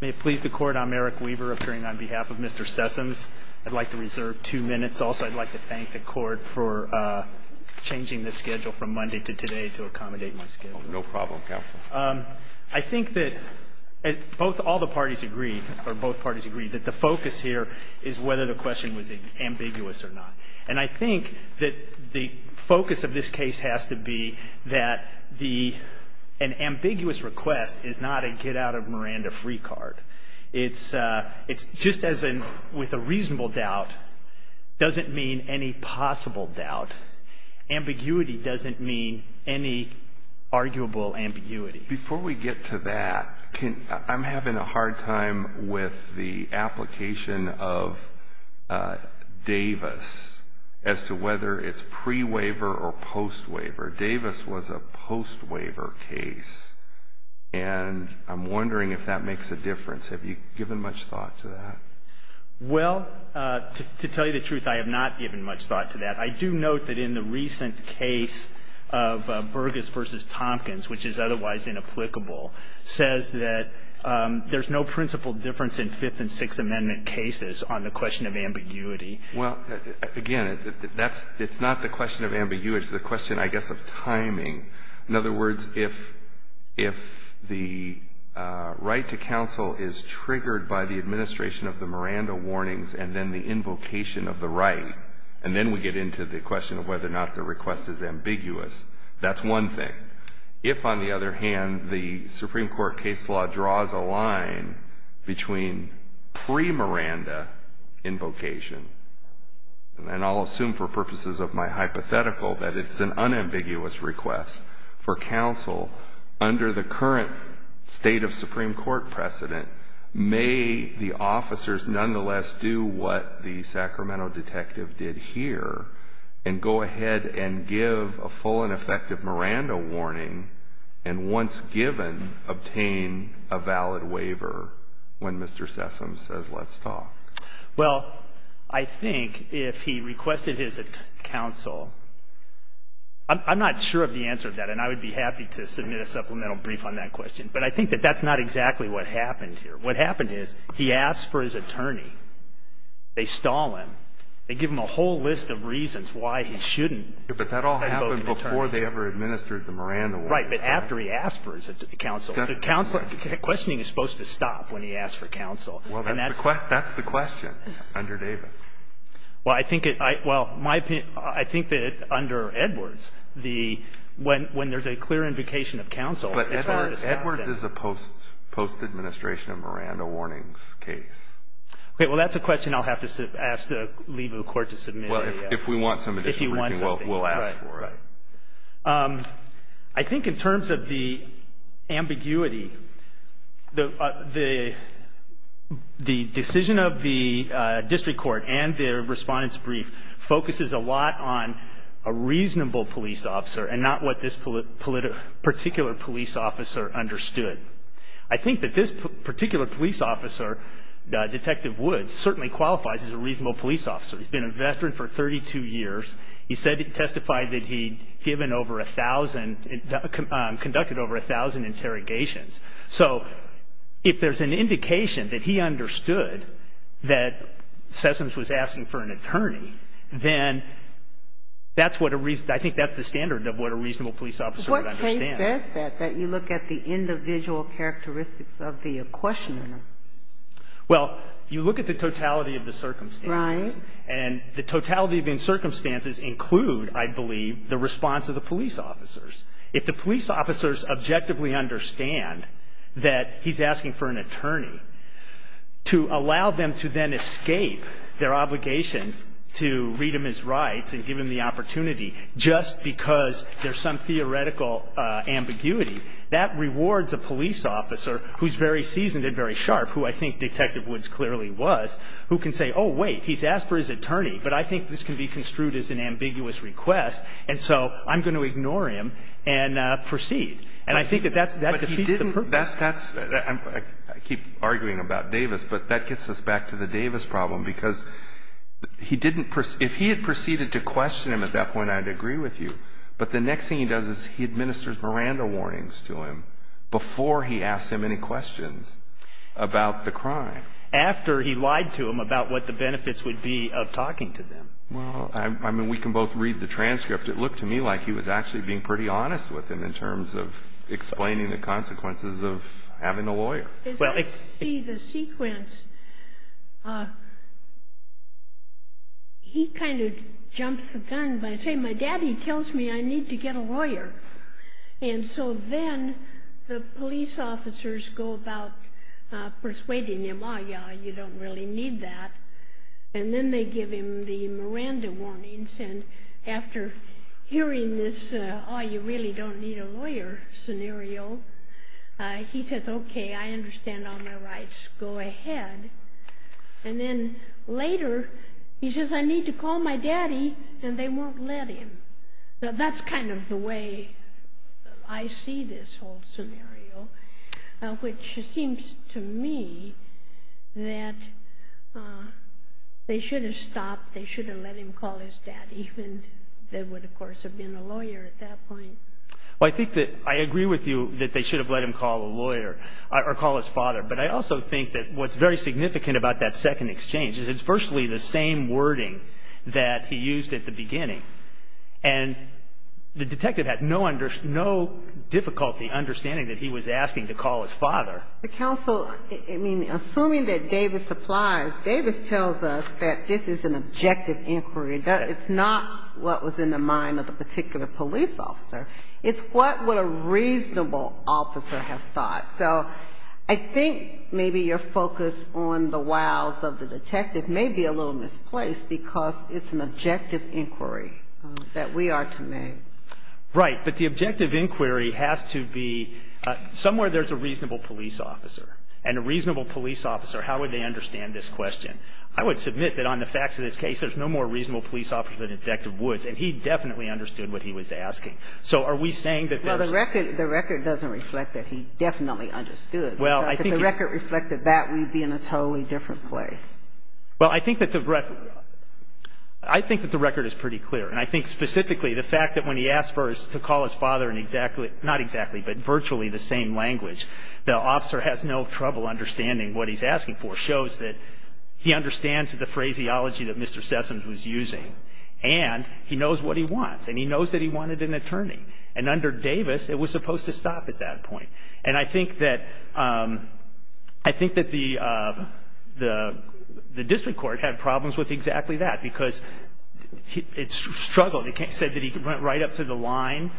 May it please the Court, I'm Eric Weaver, appearing on behalf of Mr. Sessoms. I'd like to reserve two minutes. Also, I'd like to thank the Court for changing the schedule from Monday to today to accommodate my schedule. No problem, Counselor. I think that all the parties agreed, or both parties agreed, that the focus here is whether the question was ambiguous or not. And I think that the focus of this case has to be that an ambiguous request is not a get-out-of-Miranda-free card. It's just as in with a reasonable doubt doesn't mean any possible doubt. Ambiguity doesn't mean any arguable ambiguity. Before we get to that, I'm having a hard time with the application of Davis as to whether it's pre-waiver or post-waiver. Davis was a post-waiver case, and I'm wondering if that makes a difference. Have you given much thought to that? Well, to tell you the truth, I have not given much thought to that. I do note that in the recent case of Burgess v. Tompkins, which is otherwise inapplicable, says that there's no principal difference in Fifth and Sixth Amendment cases on the question of ambiguity. Well, again, it's not the question of ambiguity. It's the question, I guess, of timing. In other words, if the right to counsel is triggered by the administration of the Miranda warnings and then the invocation of the right, and then we get into the question of whether or not the request is ambiguous, that's one thing. If, on the other hand, the Supreme Court case law draws a line between pre-Miranda invocation, and I'll assume for purposes of my hypothetical that it's an unambiguous request for counsel, under the current state of Supreme Court precedent, may the officers nonetheless do what the Sacramento detective did here and go ahead and give a full and effective Miranda warning and, once given, obtain a valid waiver when Mr. Sessom says, let's talk? Well, I think if he requested his counsel, I'm not sure of the answer to that, and I would be happy to submit a supplemental brief on that question, but I think that that's not exactly what happened here. What happened is he asked for his attorney. They stall him. They give him a whole list of reasons why he shouldn't invoke an attorney. But that all happened before they ever administered the Miranda warnings. Right, but after he asked for his counsel. Counseling is supposed to stop when he asks for counsel. Well, that's the question under Davis. Well, I think that under Edwards, when there's a clear invocation of counsel, it's hard to stop that. But Edwards is a post-administration of Miranda warnings case. Okay. Well, that's a question I'll have to ask the lead of the court to submit. Well, if we want some additional briefing, we'll ask for it. Right, right. I think in terms of the ambiguity, the decision of the district court and their respondent's brief focuses a lot on a reasonable police officer and not what this particular police officer understood. I think that this particular police officer, Detective Woods, certainly qualifies as a reasonable police officer. He's been a veteran for 32 years. He testified that he conducted over 1,000 interrogations. So if there's an indication that he understood that Sessoms was asking for an attorney, then I think that's the standard of what a reasonable police officer would understand. It says that, that you look at the individual characteristics of the questioner. Well, you look at the totality of the circumstances. Right. And the totality of the circumstances include, I believe, the response of the police officers. If the police officers objectively understand that he's asking for an attorney, to allow them to then escape their obligation to read him his rights and give him the opportunity just because there's some theoretical ambiguity, that rewards a police officer who's very seasoned and very sharp, who I think Detective Woods clearly was, who can say, oh, wait, he's asked for his attorney, but I think this can be construed as an ambiguous request, and so I'm going to ignore him and proceed. And I think that that defeats the purpose. But he didn't – that's – I keep arguing about Davis, but that gets us back to the Davis problem because he didn't – But the next thing he does is he administers Miranda warnings to him before he asks him any questions about the crime. After he lied to him about what the benefits would be of talking to them. Well, I mean, we can both read the transcript. It looked to me like he was actually being pretty honest with him in terms of explaining the consequences of having a lawyer. As I see the sequence, he kind of jumps the gun by saying, my daddy tells me I need to get a lawyer. And so then the police officers go about persuading him, oh, yeah, you don't really need that. And then they give him the Miranda warnings. And after hearing this, oh, you really don't need a lawyer scenario, he says, okay, I understand all my rights. Go ahead. And then later he says, I need to call my daddy. And they won't let him. That's kind of the way I see this whole scenario, which seems to me that they should have stopped. They should have let him call his daddy. And they would, of course, have been a lawyer at that point. Well, I think that I agree with you that they should have let him call a lawyer or call his father. But I also think that what's very significant about that second exchange is it's virtually the same wording that he used at the beginning. And the detective had no difficulty understanding that he was asking to call his father. But counsel, I mean, assuming that Davis applies, Davis tells us that this is an objective inquiry. It's not what was in the mind of the particular police officer. It's what would a reasonable officer have thought. So I think maybe your focus on the wows of the detective may be a little misplaced because it's an objective inquiry that we are to make. Right. But the objective inquiry has to be somewhere there's a reasonable police officer. And a reasonable police officer, how would they understand this question? I would submit that on the facts of this case, there's no more reasonable police officer than Detective Woods. And he definitely understood what he was asking. So are we saying that there's no more reasonable police officer? Well, the record doesn't reflect that he definitely understood. Because if the record reflected that, we'd be in a totally different place. Well, I think that the record is pretty clear. And I think specifically the fact that when he asked for us to call his father in exactly not exactly, but virtually the same language, the officer has no trouble understanding what he's asking for, shows that he understands the phraseology that Mr. Sessoms was using. And he knows what he wants. And he knows that he wanted an attorney. And under Davis, it was supposed to stop at that point. And I think that the district court had problems with exactly that because it struggled. It said that he went right up to the line.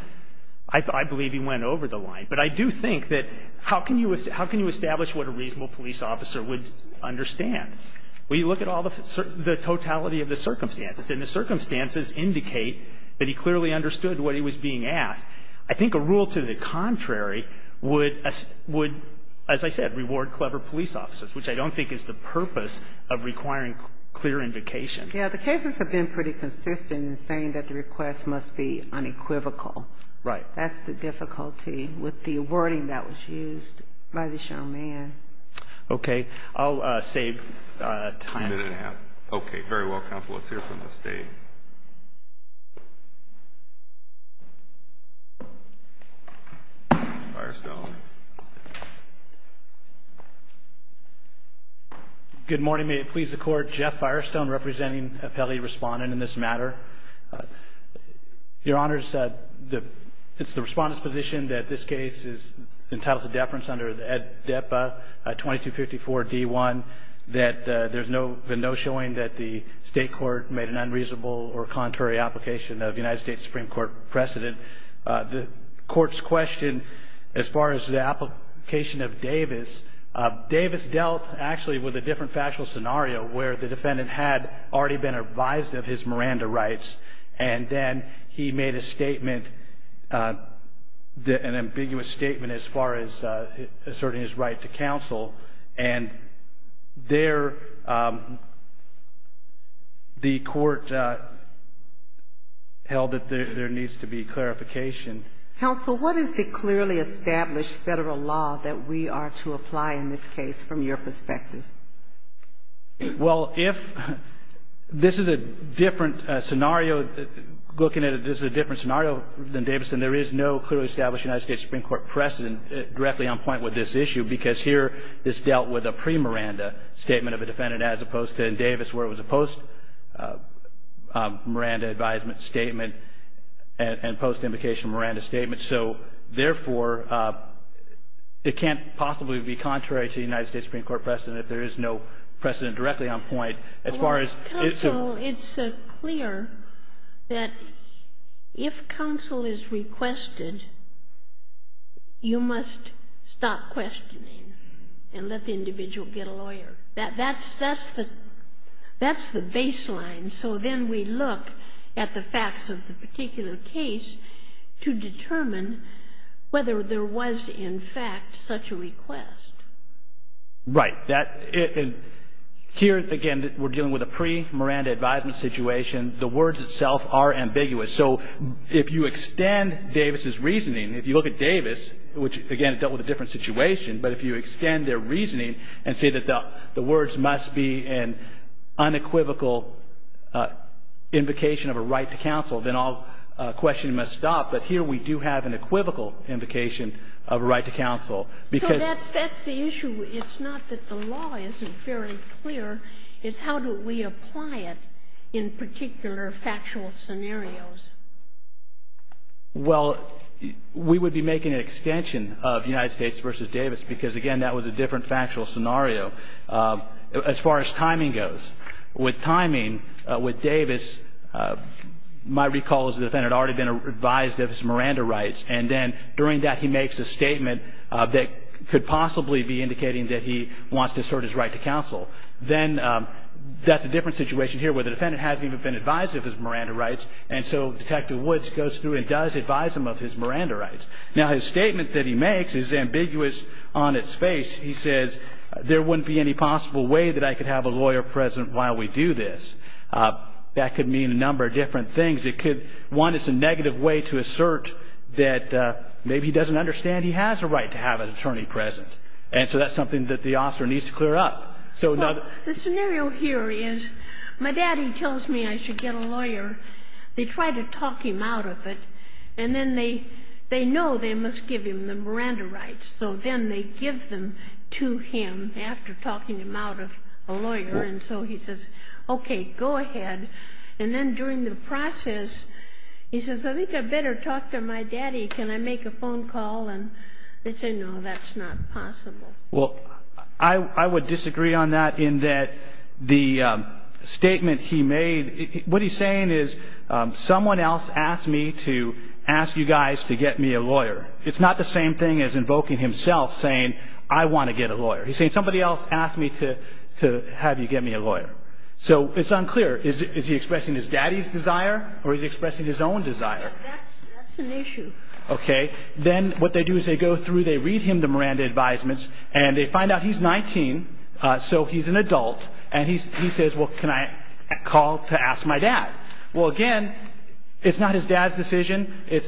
I believe he went over the line. But I do think that how can you establish what a reasonable police officer would understand? Well, you look at all the totality of the circumstances, and the circumstances indicate that he clearly understood what he was being asked. I think a rule to the contrary would, as I said, reward clever police officers, which I don't think is the purpose of requiring clear indication. Yeah, the cases have been pretty consistent in saying that the request must be unequivocal. Right. That's the difficulty with the wording that was used by this young man. Okay. I'll save time. A minute and a half. Okay. Very well, counsel. Let's hear from the State. Firestone. Good morning. May it please the Court. Jeff Firestone, representing appellee respondent in this matter. Your Honors, it's the respondent's position that this case is entitled to deference under ADEPA 2254-D1, that there's been no showing that the State court made an unreasonable or contrary application of the United States Supreme Court precedent. Davis dealt, actually, with a different factual scenario, where the defendant had already been advised of his Miranda rights, and then he made a statement, an ambiguous statement as far as asserting his right to counsel, and there the court held that there needs to be clarification. Counsel, what is the clearly established Federal law that we are to apply in this case from your perspective? Well, if this is a different scenario, looking at it, this is a different scenario than Davis, then there is no clearly established United States Supreme Court precedent directly on point with this issue, because here this dealt with a pre-Miranda statement of a defendant, as opposed to in Davis where it was a post-Miranda advisement statement and post-implication Miranda statement. So, therefore, it can't possibly be contrary to the United States Supreme Court precedent if there is no precedent directly on point as far as its own. Counsel, it's clear that if counsel is requested, you must stop questioning and let the individual get a lawyer. That's the baseline. So then we look at the facts of the particular case to determine whether there was, in fact, such a request. Right. Here, again, we're dealing with a pre-Miranda advisement situation. The words itself are ambiguous. So if you extend Davis's reasoning, if you look at Davis, which, again, dealt with a different situation, but if you extend their reasoning and say that the words must be an unequivocal invocation of a right to counsel, then all questioning must stop. But here we do have an equivocal invocation of a right to counsel. So that's the issue. It's not that the law isn't very clear. It's how do we apply it in particular factual scenarios. Well, we would be making an extension of United States versus Davis because, again, that was a different factual scenario as far as timing goes. With timing, with Davis, my recall is the defendant had already been advised of his Miranda rights, and then during that he makes a statement that could possibly be indicating that he wants to assert his right to counsel. Then that's a different situation here where the defendant hasn't even been advised of his Miranda rights, and so Detective Woods goes through and does advise him of his Miranda rights. Now, his statement that he makes is ambiguous on its face. He says, there wouldn't be any possible way that I could have a lawyer present while we do this. That could mean a number of different things. It could, one, it's a negative way to assert that maybe he doesn't understand he has a right to have an attorney present. And so that's something that the officer needs to clear up. The scenario here is my daddy tells me I should get a lawyer. They try to talk him out of it, and then they know they must give him the Miranda rights, so then they give them to him after talking him out of a lawyer. And so he says, okay, go ahead. And then during the process, he says, I think I better talk to my daddy. Can I make a phone call? And they say, no, that's not possible. Well, I would disagree on that in that the statement he made, what he's saying is someone else asked me to ask you guys to get me a lawyer. It's not the same thing as invoking himself saying, I want to get a lawyer. He's saying somebody else asked me to have you get me a lawyer. So it's unclear. Is he expressing his daddy's desire, or is he expressing his own desire? That's an issue. Okay. Then what they do is they go through, they read him the Miranda advisements, and they find out he's 19, so he's an adult, and he says, well, can I call to ask my dad? Well, again, it's not his dad's decision. They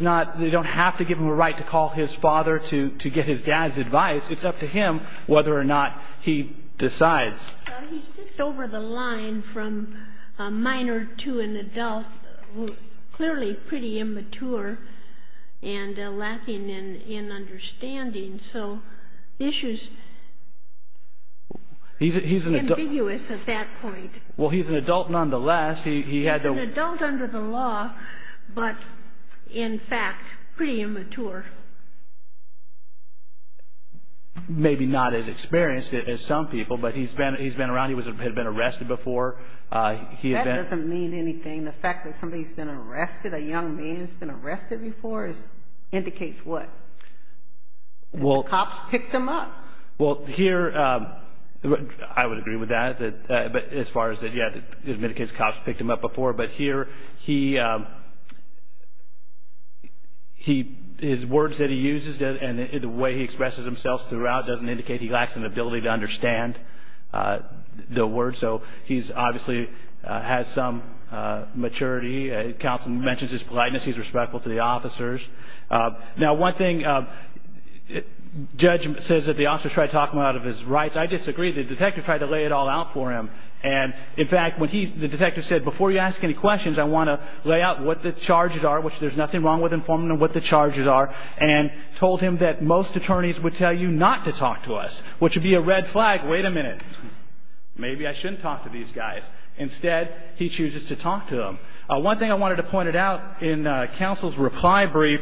don't have to give him a right to call his father to get his dad's advice. It's up to him whether or not he decides. He's just over the line from a minor to an adult, clearly pretty immature and lacking in understanding. So the issue is ambiguous at that point. Well, he's an adult nonetheless. He's an adult under the law, but, in fact, pretty immature. Maybe not as experienced as some people, but he's been around. He had been arrested before. That doesn't mean anything. The fact that somebody's been arrested, a young man's been arrested before indicates what? The cops picked him up. Well, here, I would agree with that as far as, yeah, it indicates cops picked him up before. But here, his words that he uses and the way he expresses himself throughout doesn't indicate he lacks an ability to understand the words. So he obviously has some maturity. Counsel mentions his politeness. He's respectful to the officers. Now, one thing, Judge says that the officers tried to talk him out of his rights. I disagree. The detective tried to lay it all out for him. And, in fact, the detective said, before you ask any questions, I want to lay out what the charges are, which there's nothing wrong with informing them what the charges are, and told him that most attorneys would tell you not to talk to us, which would be a red flag. Wait a minute. Maybe I shouldn't talk to these guys. Instead, he chooses to talk to them. One thing I wanted to point out in Counsel's reply brief,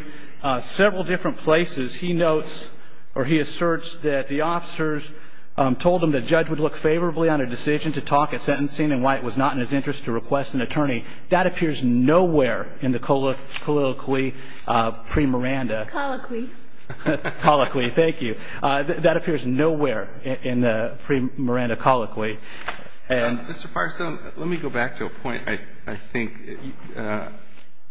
several different places he notes or he asserts that the officers told him the judge would look favorably on a decision to talk at sentencing and why it was not in his interest to request an attorney. That appears nowhere in the colloquy pre-Miranda. Colloquy. Colloquy. Thank you. That appears nowhere in the pre-Miranda colloquy. Mr. Parson, let me go back to a point. I think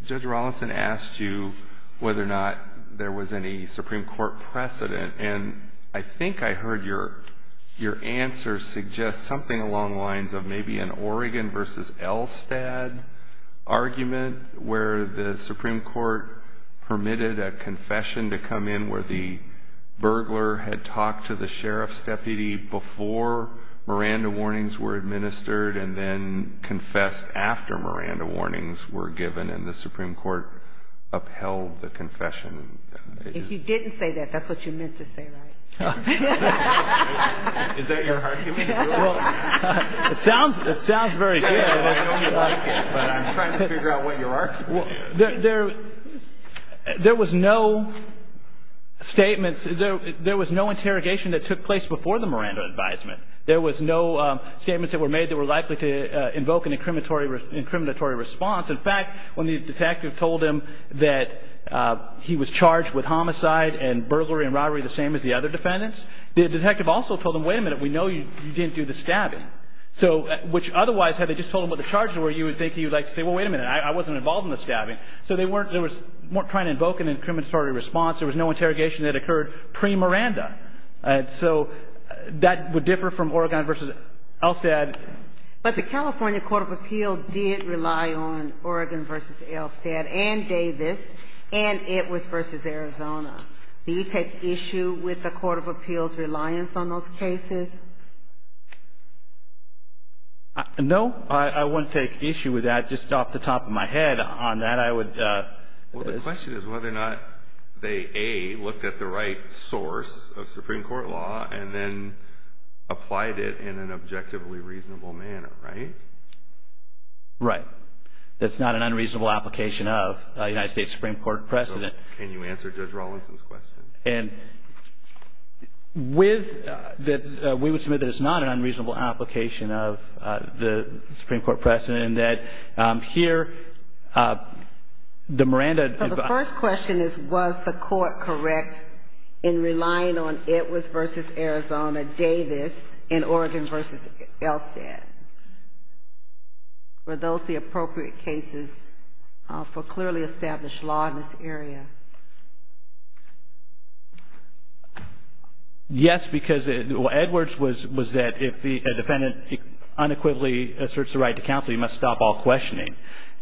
Judge Rawlinson asked you whether or not there was any Supreme Court precedent, and I think I heard your answer suggest something along the lines of maybe an Oregon versus Elstad argument where the Supreme Court permitted a confession to come in where the burglar had talked to the sheriff's deputy before Miranda warnings were administered and then confessed after Miranda warnings were given and the Supreme Court upheld the confession. If you didn't say that, that's what you meant to say, right? Is that your argument? It sounds very good. I know you like it, but I'm trying to figure out what your argument is. There was no interrogation that took place before the Miranda advisement. There was no statements that were made that were likely to invoke an incriminatory response. In fact, when the detective told him that he was charged with homicide and burglary and robbery, the same as the other defendants, the detective also told him, wait a minute, we know you didn't do the stabbing, which otherwise had they just told him what the charges were, you would think he would like to say, well, wait a minute, I wasn't involved in the stabbing. So they weren't trying to invoke an incriminatory response. There was no interrogation that occurred pre-Miranda. So that would differ from Oregon versus Elstad. But the California Court of Appeals did rely on Oregon versus Elstad and Davis and Edwards versus Arizona. Do you take issue with the Court of Appeals' reliance on those cases? No, I wouldn't take issue with that. Just off the top of my head on that, I would. Well, the question is whether or not they, A, looked at the right source of Supreme Court law and then applied it in an objectively reasonable manner, right? Right. That's not an unreasonable application of a United States Supreme Court president. So can you answer Judge Rawlinson's question? And with that, we would submit that it's not an unreasonable application of the Supreme Court president and that here the Miranda- So the first question is, was the court correct in relying on Edwards versus Arizona, Davis, and Oregon versus Elstad? Were those the appropriate cases for clearly established law in this area? Yes, because Edwards was that if a defendant unequivocally asserts the right to counsel, he must stop all questioning.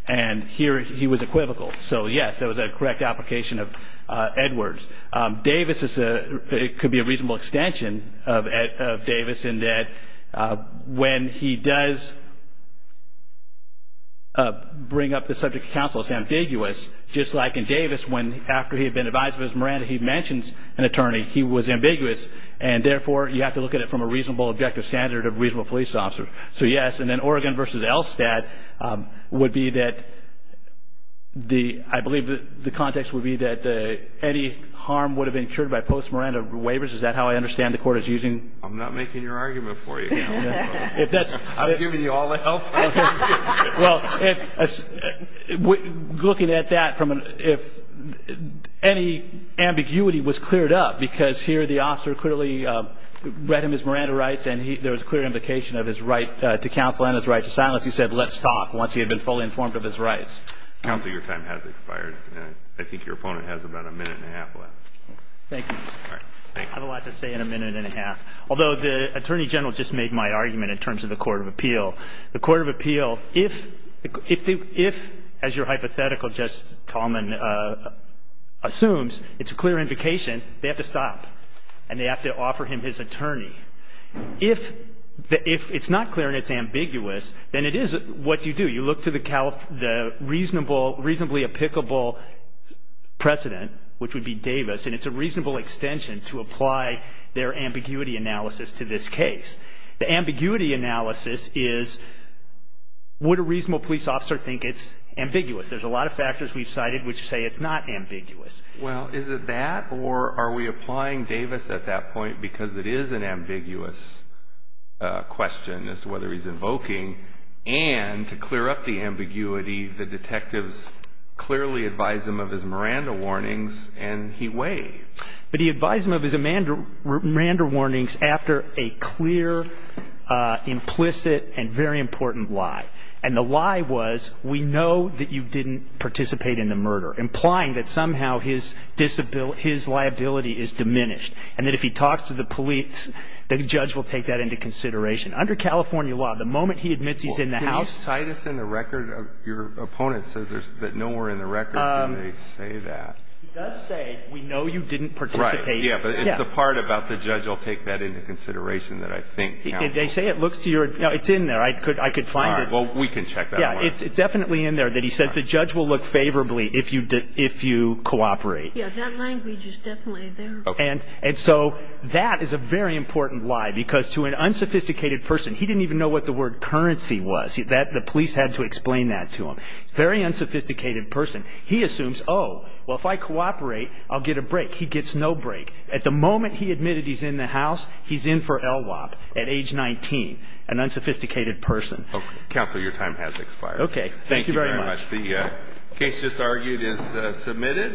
And here he was equivocal. So, yes, that was a correct application of Edwards. Davis, it could be a reasonable extension of Davis in that when he does bring up the subject of counsel, it's ambiguous, just like in Davis when after he had been advised of his Miranda, he mentions an attorney, he was ambiguous. And, therefore, you have to look at it from a reasonable objective standard of a reasonable police officer. So, yes. And then Oregon versus Elstad would be that the- I believe the context would be that any harm would have been cured by post-Miranda waivers. Is that how I understand the court is using- I'm not making your argument for you. I'm giving you all the help. Well, looking at that, if any ambiguity was cleared up, because here the officer clearly read him his Miranda rights and there was a clear implication of his right to counsel and his right to silence, he said, let's talk, once he had been fully informed of his rights. Counsel, your time has expired. I think your opponent has about a minute and a half left. Thank you. I have a lot to say in a minute and a half. Although the Attorney General just made my argument in terms of the court of appeal. The court of appeal, if, as your hypothetical, Justice Tallman, assumes it's a clear indication, they have to stop and they have to offer him his attorney. If it's not clear and it's ambiguous, then it is what you do. You look to the reasonably applicable precedent, which would be Davis, and it's a reasonable extension to apply their ambiguity analysis to this case. The ambiguity analysis is would a reasonable police officer think it's ambiguous. There's a lot of factors we've cited which say it's not ambiguous. Well, is it that or are we applying Davis at that point because it is an ambiguous question as to whether he's invoking and to clear up the ambiguity, the detectives clearly advise him of his Miranda warnings and he weighed. But he advised him of his Miranda warnings after a clear, implicit, and very important lie. And the lie was we know that you didn't participate in the murder, implying that somehow his liability is diminished and that if he talks to the police, the judge will take that into consideration. Under California law, the moment he admits he's in the house – Well, can you cite us in the record? Your opponent says that nowhere in the record do they say that. He does say we know you didn't participate. Right. Yeah. But it's the part about the judge will take that into consideration that I think counsel – They say it looks to your – no, it's in there. I could find it. All right. Well, we can check that one out. No, it's definitely in there that he says the judge will look favorably if you cooperate. Yeah, that language is definitely there. And so that is a very important lie because to an unsophisticated person – he didn't even know what the word currency was. The police had to explain that to him. Very unsophisticated person. He assumes, oh, well, if I cooperate, I'll get a break. He gets no break. At the moment he admitted he's in the house, he's in for LWOP at age 19, an unsophisticated person. Counsel, your time has expired. Okay. Thank you very much. Thank you very much. The case just argued is submitted.